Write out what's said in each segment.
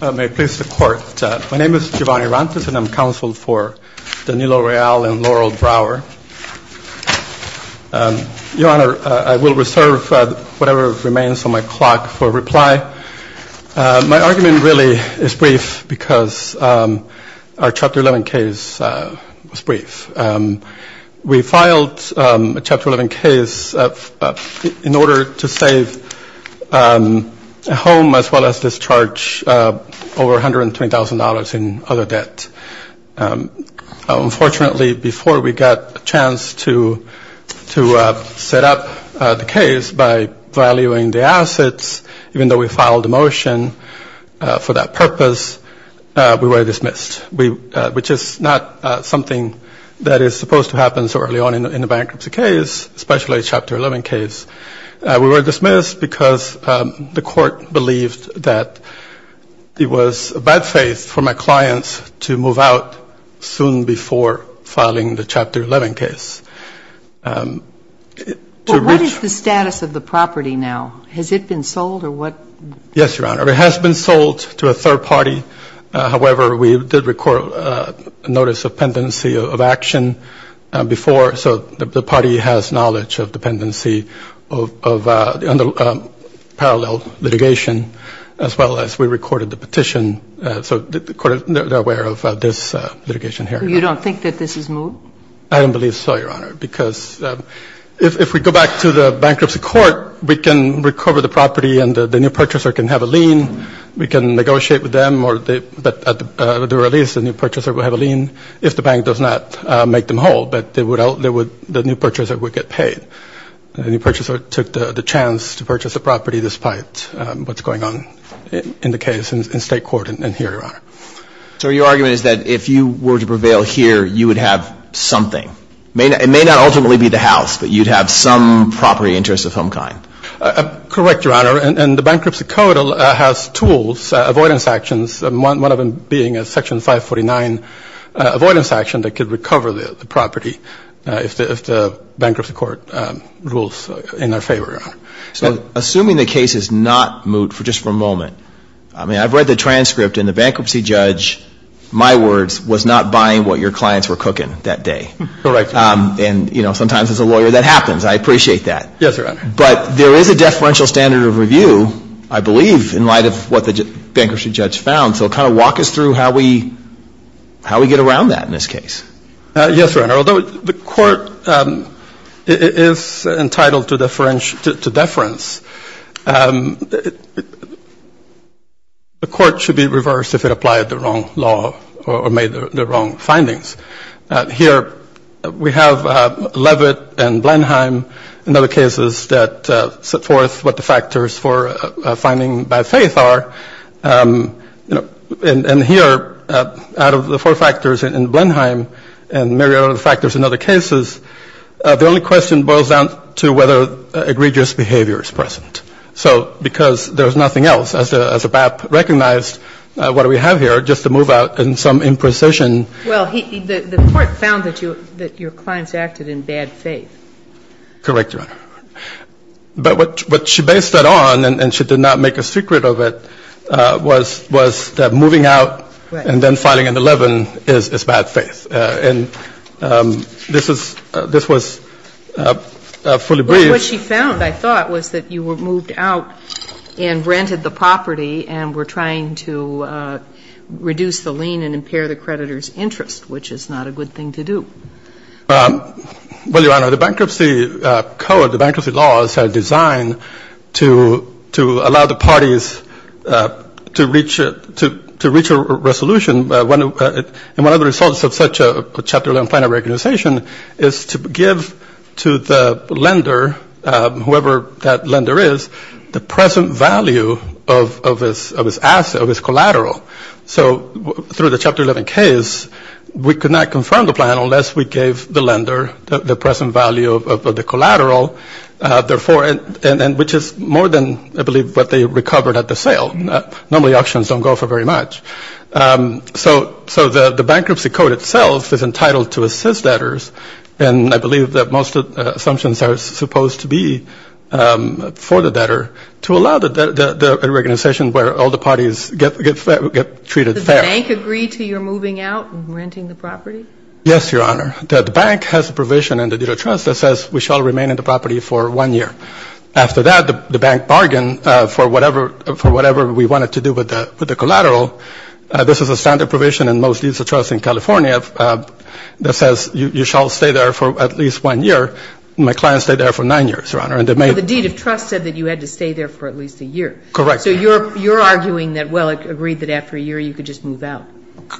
May it please the Court. My name is Giovanni Rantes and I'm counsel for Danilo Real and Laurel Brower. Your Honor, I will reserve whatever remains on my clock for reply. My argument really is brief because our Chapter 11 case was brief. We filed a Chapter 11 case in order to save a home as well as discharge over $120,000 in other debt. Unfortunately, before we got a chance to set up the case by valuing the assets, even though we filed a motion for that purpose, we were dismissed, which is not something that is supposed to happen so early on in a bankruptcy case, especially a Chapter 11 case. We were dismissed because the Court believed that it was a bad faith for my clients to move out soon before filing the Chapter 11 case. But what is the status of the property now? Has it been sold or what? Yes, Your Honor. It has been sold to a third party. However, we did record a notice of pendency of action before. So the party has knowledge of dependency of parallel litigation as well as we recorded the petition. So the Court is aware of this litigation here. You don't think that this is moved? I don't believe so, Your Honor, because if we go back to the bankruptcy court, we can recover the property and the new purchaser can have a lien. We can negotiate with them or at the release the new purchaser will have a lien if the bank does not make them whole, but the new purchaser would get paid. The new purchaser took the chance to purchase the property despite what's going on in the case in State Court and here, Your Honor. So your argument is that if you were to prevail here, you would have something. It may not ultimately be the house, but you'd have some property interest of some kind. Correct, Your Honor. And the bankruptcy court has tools, avoidance actions, one of them being a Section 549 avoidance action that could recover the property if the bankruptcy court rules in our favor, Your Honor. So assuming the case is not moot just for a moment, I mean, I've read the transcript and the bankruptcy judge, my words, was not buying what your clients were cooking that day. Correct. And, you know, sometimes as a lawyer that happens. I appreciate that. Yes, Your Honor. But there is a deferential standard of review, I believe, in light of what the bankruptcy judge found. So kind of walk us through how we get around that in this case. Yes, Your Honor. Although the court is entitled to deference, the court should be reversed if it applied the wrong law or made the wrong findings. Here we have Levitt and Blenheim and other cases that set forth what the factors for a finding by faith are. And here, out of the four factors in Blenheim, we have the four factors in Levitt. And Mary, out of the factors in other cases, the only question boils down to whether egregious behavior is present. So because there is nothing else, as the BAP recognized, what do we have here just to move out in some imprecision. Well, the court found that your clients acted in bad faith. Correct, Your Honor. But what she based that on, and she did not make a secret of it, was that moving out and then filing an 11 is bad faith. And this was fully briefed. But what she found, I thought, was that you were moved out and rented the property and were trying to reduce the lien and impair the creditor's interest, which is not a good thing to do. Well, Your Honor, the bankruptcy code, the bankruptcy laws are designed to allow the parties to reach a resolution. And one of the results of such a Chapter 11 plan of recognization is to give to the lender, whoever that lender is, the present value of his asset, of his collateral. So through the Chapter 11 case, we could not confirm the plan unless we gave the lender the present value of the collateral, therefore, and which is more than, I believe, what they recovered at the sale. Normally auctions don't go for very much. So the bankruptcy code itself is entitled to assist debtors. And I believe that most assumptions are supposed to be for the debtor to allow the organization where all the parties get treated fair. Did the bank agree to your moving out and renting the property? Yes, Your Honor. The bank has a provision in the Deed of Trust that says we shall remain in the property for one year. After that, the bank bargained for whatever we wanted to do with the collateral. This is a standard provision in most Deeds of Trust in California that says you shall stay there for at least one year. My clients stayed there for nine years, Your Honor. But the Deed of Trust said that you had to stay there for at least a year. Correct. So you're arguing that, well, it agreed that after a year you could just move out.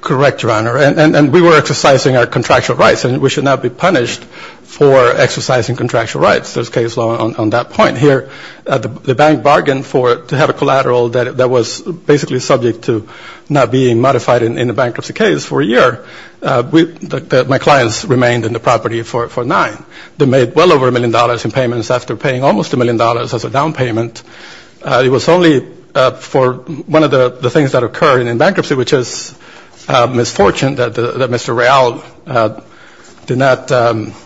Correct, Your Honor. And we were exercising our contractual rights, and we should not be punished for exercising contractual rights. There's case law on that point here. The bank bargained to have a collateral that was basically subject to not being modified in a bankruptcy case for a year. My clients remained in the property for nine. They made well over a million dollars in payments after paying almost a million dollars as a down payment. It was only for one of the things that occurred in bankruptcy, which is misfortune that Mr. Real did not,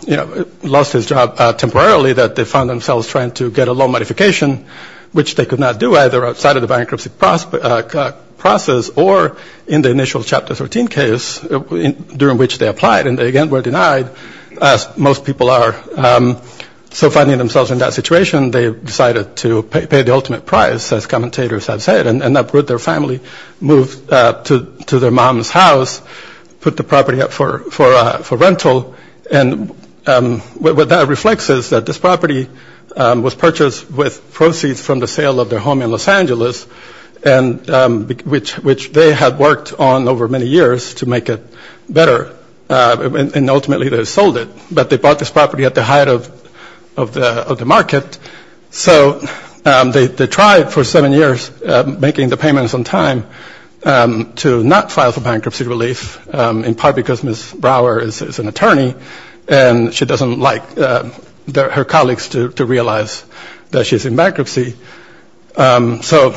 you know, lost his job temporarily, that they found themselves trying to get a loan modification, which they could not do either outside of the bankruptcy process or in the initial Chapter 13 case during which they applied, and they again were denied, as most people are. So finding themselves in that situation, they decided to pay the ultimate price, as commentators have said, and uprooted their family, moved to their mom's house, put the property up for rental, and what that reflects is that this property was purchased with proceeds from the sale of their home in Los Angeles, which they had worked on over many years to make it better, and ultimately they sold it. But they bought this property at the height of the market, so they tried for seven years making the payments on time to not file for bankruptcy relief, in part because Ms. Brower is an attorney, and she doesn't like her colleagues to realize that she's in bankruptcy. So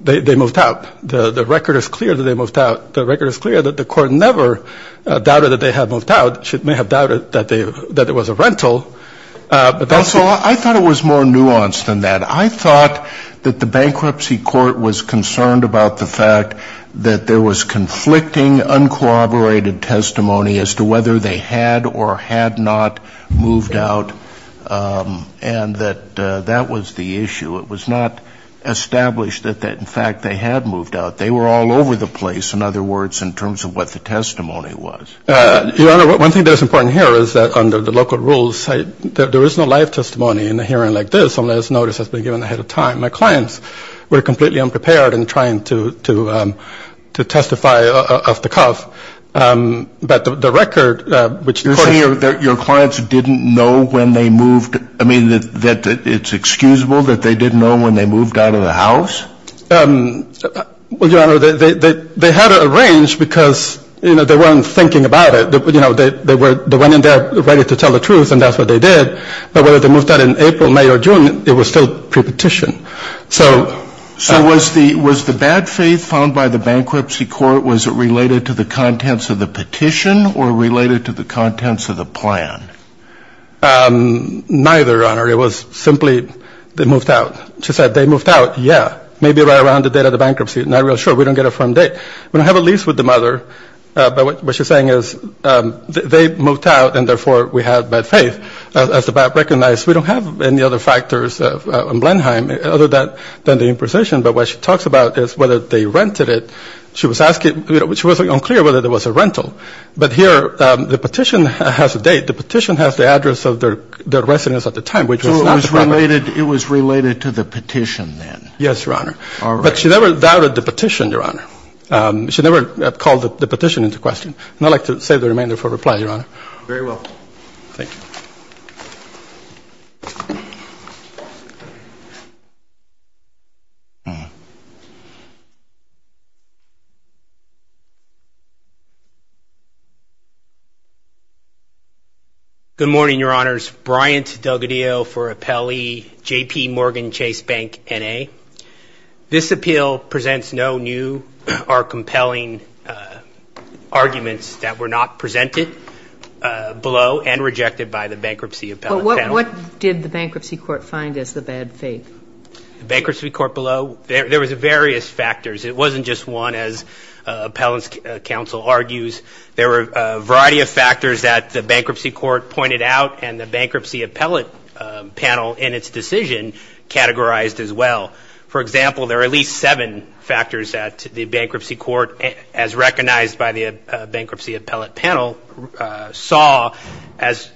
they moved out. The record is clear that they moved out. The record is clear that the court never doubted that they had moved out. It may have doubted that it was a rental. But also I thought it was more nuanced than that. I thought that the bankruptcy court was concerned about the fact that there was conflicting, in fact, they had moved out. They were all over the place, in other words, in terms of what the testimony was. Your Honor, one thing that is important here is that under the local rules, there is no live testimony in a hearing like this unless notice has been given ahead of time. My clients were completely unprepared in trying to testify off the cuff. But the record, which according to your clients, didn't know when they moved, I mean, it's excusable that they didn't know when they moved out of the house? Well, Your Honor, they had it arranged because, you know, they weren't thinking about it. You know, they went in there ready to tell the truth, and that's what they did. But whether they moved out in April, May, or June, it was still prepetition. So was the bad faith found by the bankruptcy court, was it related to the contents of the petition or related to the contents of the plan? Neither, Your Honor. It was simply they moved out. She said they moved out, yeah, maybe right around the date of the bankruptcy. Not real sure, we don't get a firm date. We don't have a lease with the mother, but what she's saying is they moved out, and therefore we have bad faith. As the BAP recognized, we don't have any other factors on Blenheim other than the imposition. But what she talks about is whether they rented it. She was asking, you know, she wasn't clear whether there was a rental. But here the petition has a date. The petition has the address of their residence at the time. So it was related to the petition then? Yes, Your Honor. But she never doubted the petition, Your Honor. She never called the petition into question. And I'd like to save the remainder for reply, Your Honor. Very well. Thank you. Good morning, Your Honors. Bryant Delgadillo for Appellee J.P. Morgan Chase Bank, N.A. This appeal presents no new or compelling arguments that were not presented below and rejected by the Bankruptcy Appellate Panel. What did the Bankruptcy Court find as the bad faith? The Bankruptcy Court below, there was various factors. It wasn't just one, as Appellant's counsel argues. There were a variety of factors that the Bankruptcy Court pointed out and the Bankruptcy Appellate Panel in its decision categorized as well. For example, there are at least seven factors that the Bankruptcy Court, as recognized by the Bankruptcy Appellate Panel, saw as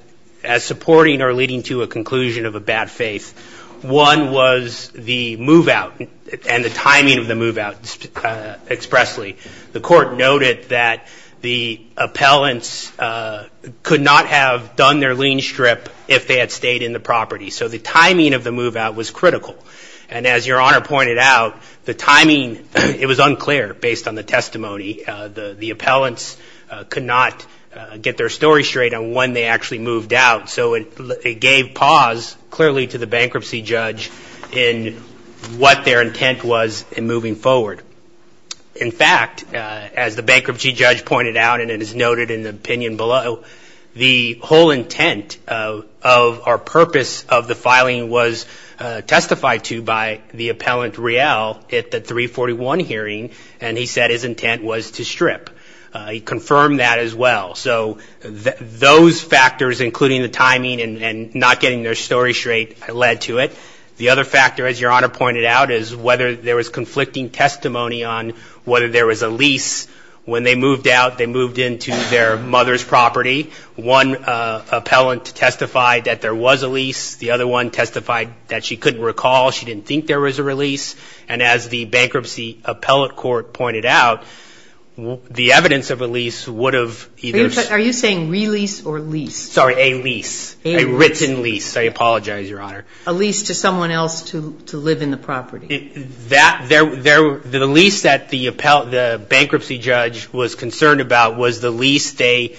supporting or leading to a conclusion of a bad faith. One was the move-out and the timing of the move-out expressly. The Court noted that the appellants could not have done their lien strip if they had stayed in the property. So the timing of the move-out was critical. And as Your Honor pointed out, the timing, it was unclear based on the testimony. The appellants could not get their story straight on when they actually moved out. So it gave pause clearly to the bankruptcy judge in what their intent was in moving forward. In fact, as the bankruptcy judge pointed out, and it is noted in the opinion below, the whole intent of our purpose of the filing was testified to by the appellant Real at the 341 hearing, and he said his intent was to strip. He confirmed that as well. So those factors, including the timing and not getting their story straight, led to it. The other factor, as Your Honor pointed out, is whether there was conflicting testimony on whether there was a lease. When they moved out, they moved into their mother's property. One appellant testified that there was a lease. The other one testified that she couldn't recall. She didn't think there was a release. And as the Bankruptcy Appellate Court pointed out, the evidence of a lease would have either been Are you saying release or lease? Sorry, a lease, a written lease. I apologize, Your Honor. A lease to someone else to live in the property. The lease that the bankruptcy judge was concerned about was the lease they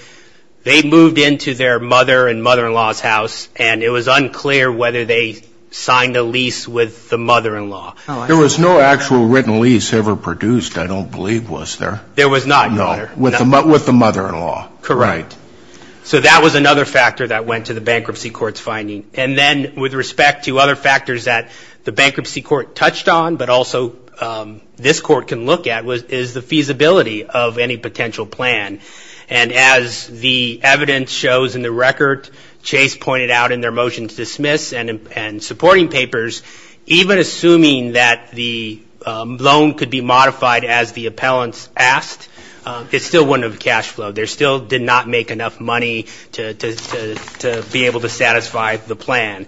moved into their mother and mother-in-law's house, and it was unclear whether they signed a lease with the mother-in-law. There was no actual written lease ever produced, I don't believe, was there? There was not, Your Honor. No, with the mother-in-law. Correct. Right. So that was another factor that went to the Bankruptcy Court's finding. And then with respect to other factors that the Bankruptcy Court touched on, but also this Court can look at, is the feasibility of any potential plan. And as the evidence shows in the record, Chase pointed out in their motions to dismiss and supporting papers, even assuming that the loan could be modified as the appellants asked, it still wouldn't have cash flow. They still did not make enough money to be able to satisfy the plan.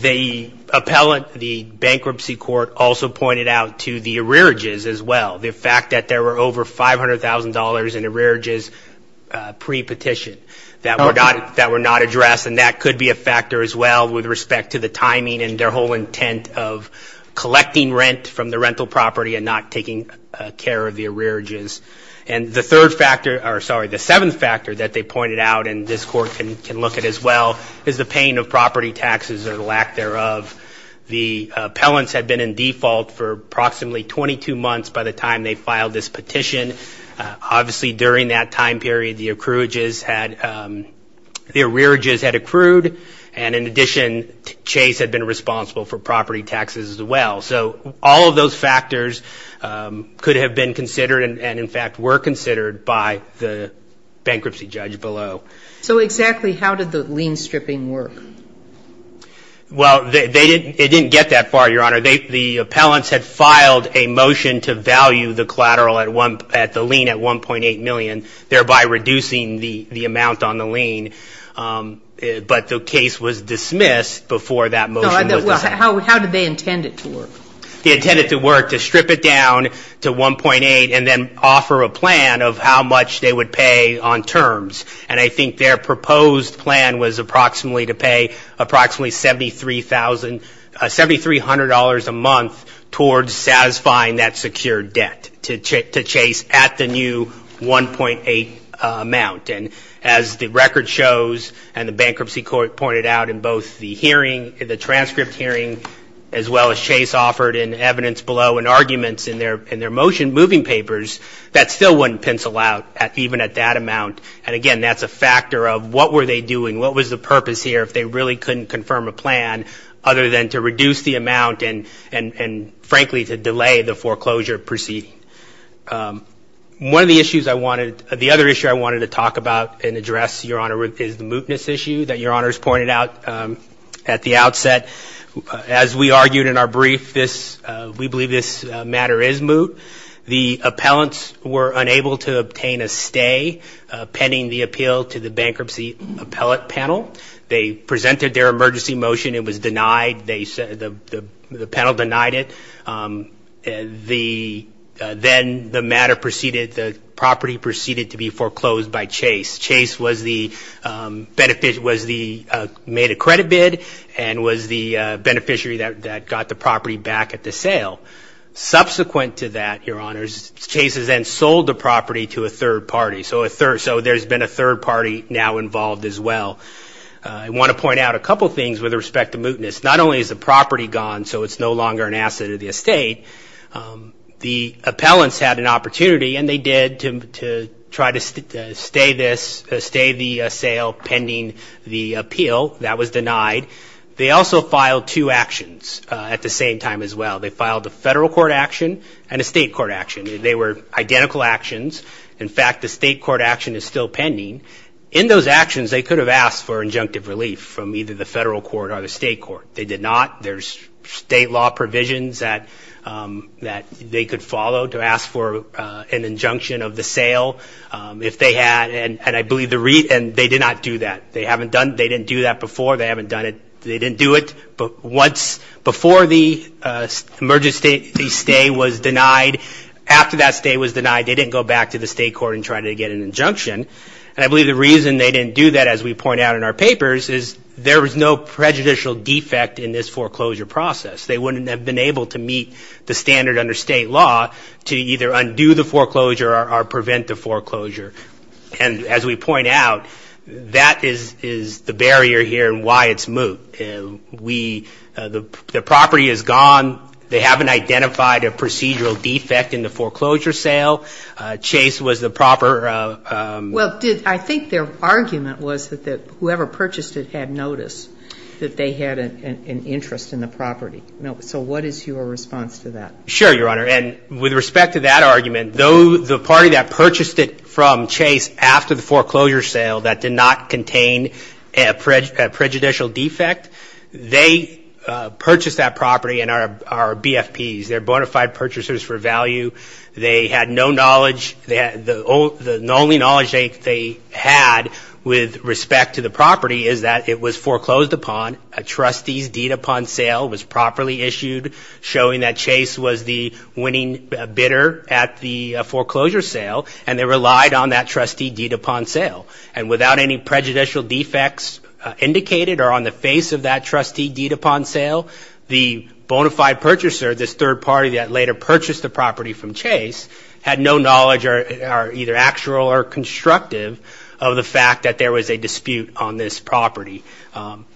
The appellant, the Bankruptcy Court, also pointed out to the arrearages as well, the fact that there were over $500,000 in arrearages pre-petition that were not addressed. And that could be a factor as well with respect to the timing and their whole intent of collecting rent from the rental property and not taking care of the arrearages. And the third factor, or sorry, the seventh factor that they pointed out and this Court can look at as well, is the pain of property taxes or the lack thereof. The appellants had been in default for approximately 22 months by the time they filed this petition. Obviously, during that time period, the arrearages had accrued. And in addition, Chase had been responsible for property taxes as well. So all of those factors could have been considered and in fact were considered by the bankruptcy judge below. So exactly how did the lien stripping work? Well, it didn't get that far, Your Honor. The appellants had filed a motion to value the collateral at the lien at $1.8 million, thereby reducing the amount on the lien. But the case was dismissed before that motion was dismissed. How did they intend it to work? They intended it to work to strip it down to $1.8 and then offer a plan of how much they would pay on terms. And I think their proposed plan was approximately to pay approximately $7,300 a month towards satisfying that secured debt to Chase at the new $1.8 amount. And as the record shows and the bankruptcy court pointed out in both the hearing, the transcript hearing as well as Chase offered in evidence below and arguments in their motion moving papers, that still wouldn't pencil out even at that amount. And again, that's a factor of what were they doing, what was the purpose here, if they really couldn't confirm a plan other than to reduce the amount and frankly to delay the foreclosure proceeding. One of the issues I wanted, the other issue I wanted to talk about and address, Your Honor, is the mootness issue that Your Honor has pointed out at the outset. As we argued in our brief, we believe this matter is moot. The appellants were unable to obtain a stay pending the appeal to the bankruptcy appellate panel. They presented their emergency motion. It was denied. The panel denied it. Then the matter proceeded, the property proceeded to be foreclosed by Chase. Chase made a credit bid and was the beneficiary that got the property back at the sale. Subsequent to that, Your Honor, Chase has then sold the property to a third party. So there's been a third party now involved as well. I want to point out a couple of things with respect to mootness. Not only is the property gone so it's no longer an asset of the estate, the appellants had an opportunity and they did to try to stay the sale pending the appeal. That was denied. They also filed two actions at the same time as well. They filed a federal court action and a state court action. They were identical actions. In fact, the state court action is still pending. In those actions, they could have asked for injunctive relief from either the federal court or the state court. They did not. There's state law provisions that they could follow to ask for an injunction of the sale if they had, and I believe they did not do that. They didn't do that before. They haven't done it. They didn't do it. But before the emergency stay was denied, after that stay was denied, they didn't go back to the state court and try to get an injunction. And I believe the reason they didn't do that, as we point out in our papers, is there was no prejudicial defect in this foreclosure process. They wouldn't have been able to meet the standard under state law to either undo the foreclosure or prevent the foreclosure. And as we point out, that is the barrier here and why it's moot. The property is gone. They haven't identified a procedural defect in the foreclosure sale. Chase was the proper ---- Well, I think their argument was that whoever purchased it had noticed that they had an interest in the property. So what is your response to that? Sure, Your Honor. And with respect to that argument, the party that purchased it from Chase after the foreclosure sale that did not contain a prejudicial defect, they purchased that property and are BFPs. They're bona fide purchasers for value. They had no knowledge. The only knowledge they had with respect to the property is that it was foreclosed upon, a trustee's deed upon sale was properly issued, showing that Chase was the winning bidder at the foreclosure sale, and they relied on that trustee deed upon sale. And without any prejudicial defects indicated or on the face of that trustee deed upon sale, the bona fide purchaser, this third party that later purchased the property from Chase, had no knowledge or either actual or constructive of the fact that there was a dispute on this property.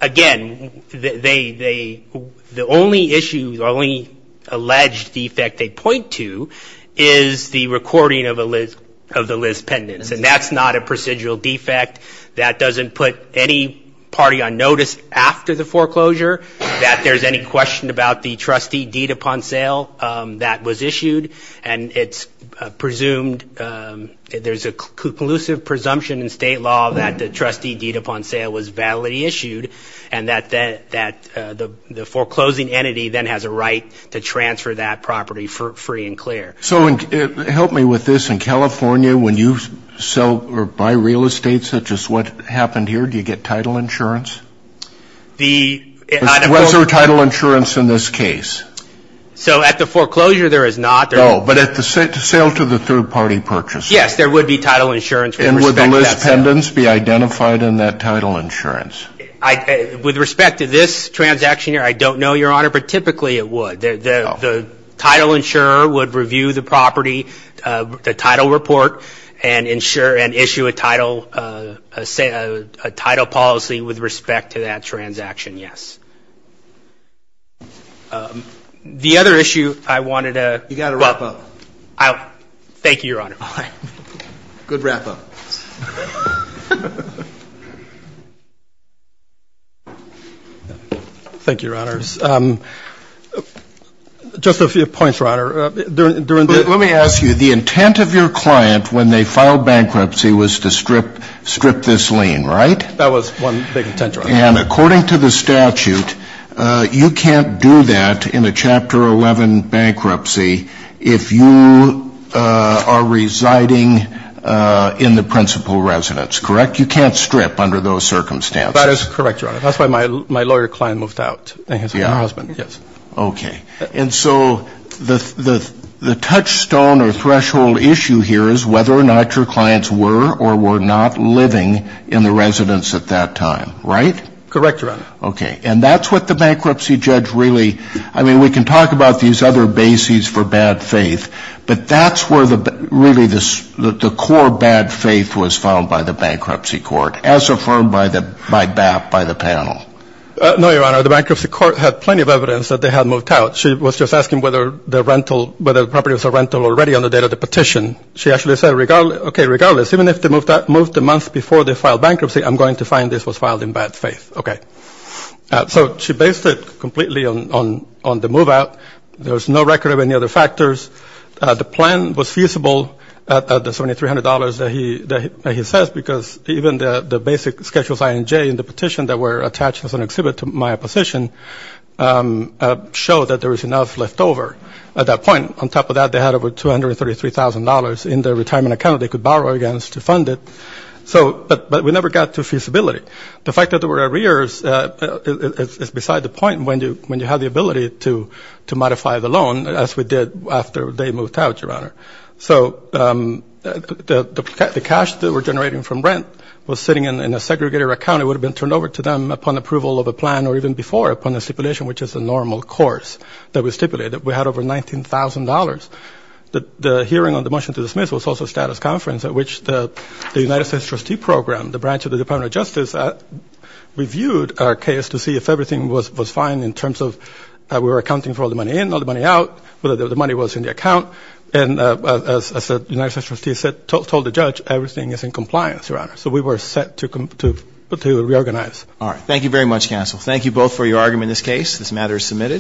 Again, the only issue, the only alleged defect they point to is the recording of the list pendants. And that's not a procedural defect. That doesn't put any party on notice after the foreclosure, that there's any question about the trustee deed upon sale that was issued, and it's presumed there's a conclusive presumption in state law that the trustee deed upon sale was validly issued and that the foreclosing entity then has a right to transfer that property free and clear. So help me with this. In California, when you sell or buy real estate such as what happened here, do you get title insurance? Was there title insurance in this case? So at the foreclosure, there is not. No, but at the sale to the third party purchaser? Yes, there would be title insurance. And would the list pendants be identified in that title insurance? With respect to this transaction here, I don't know, Your Honor, but typically it would. The title insurer would review the property, the title report, and issue a title policy with respect to that transaction, yes. The other issue I wanted to... You've got to wrap up. Thank you, Your Honor. Good wrap up. Thank you, Your Honors. Just a few points, Your Honor. Let me ask you, the intent of your client when they filed bankruptcy was to strip this lien, right? That was one big intent, Your Honor. And according to the statute, you can't do that in a Chapter 11 bankruptcy if you are residing in the principal residence, correct? You can't strip under those circumstances. That is correct, Your Honor. That's why my lawyer client moved out, and his husband, yes. Okay. And so the touchstone or threshold issue here is whether or not your clients were or were not living in the residence at that time, right? Correct, Your Honor. Okay. And that's what the bankruptcy judge really... I'm going to talk about these other bases for bad faith, but that's where really the core bad faith was found by the bankruptcy court, as affirmed by the panel. No, Your Honor. The bankruptcy court had plenty of evidence that they had moved out. She was just asking whether the property was a rental already on the date of the petition. She actually said, okay, regardless, even if they moved the month before they filed bankruptcy, I'm going to find this was filed in bad faith. Okay. So she based it completely on the move out. There was no record of any other factors. The plan was feasible at the $7,300 that he says, because even the basic Schedules I and J in the petition that were attached as an exhibit to my position showed that there was enough left over at that point. On top of that, they had over $233,000 in their retirement account they could borrow against to fund it. But we never got to feasibility. The fact that there were arrears is beside the point when you have the ability to modify the loan, as we did after they moved out, Your Honor. So the cash that we're generating from rent was sitting in a segregated account. It would have been turned over to them upon approval of a plan or even before upon a stipulation, which is a normal course that we stipulated. We had over $19,000. The hearing on the motion to dismiss was also a status conference at which the United States trustee program, the branch of the Department of Justice, reviewed our case to see if everything was fine in terms of we were accounting for all the money in, all the money out, whether the money was in the account. And as the United States trustee said, told the judge, everything is in compliance, Your Honor. So we were set to reorganize. All right. Thank you very much, counsel. Thank you both for your argument in this case. This matter is submitted.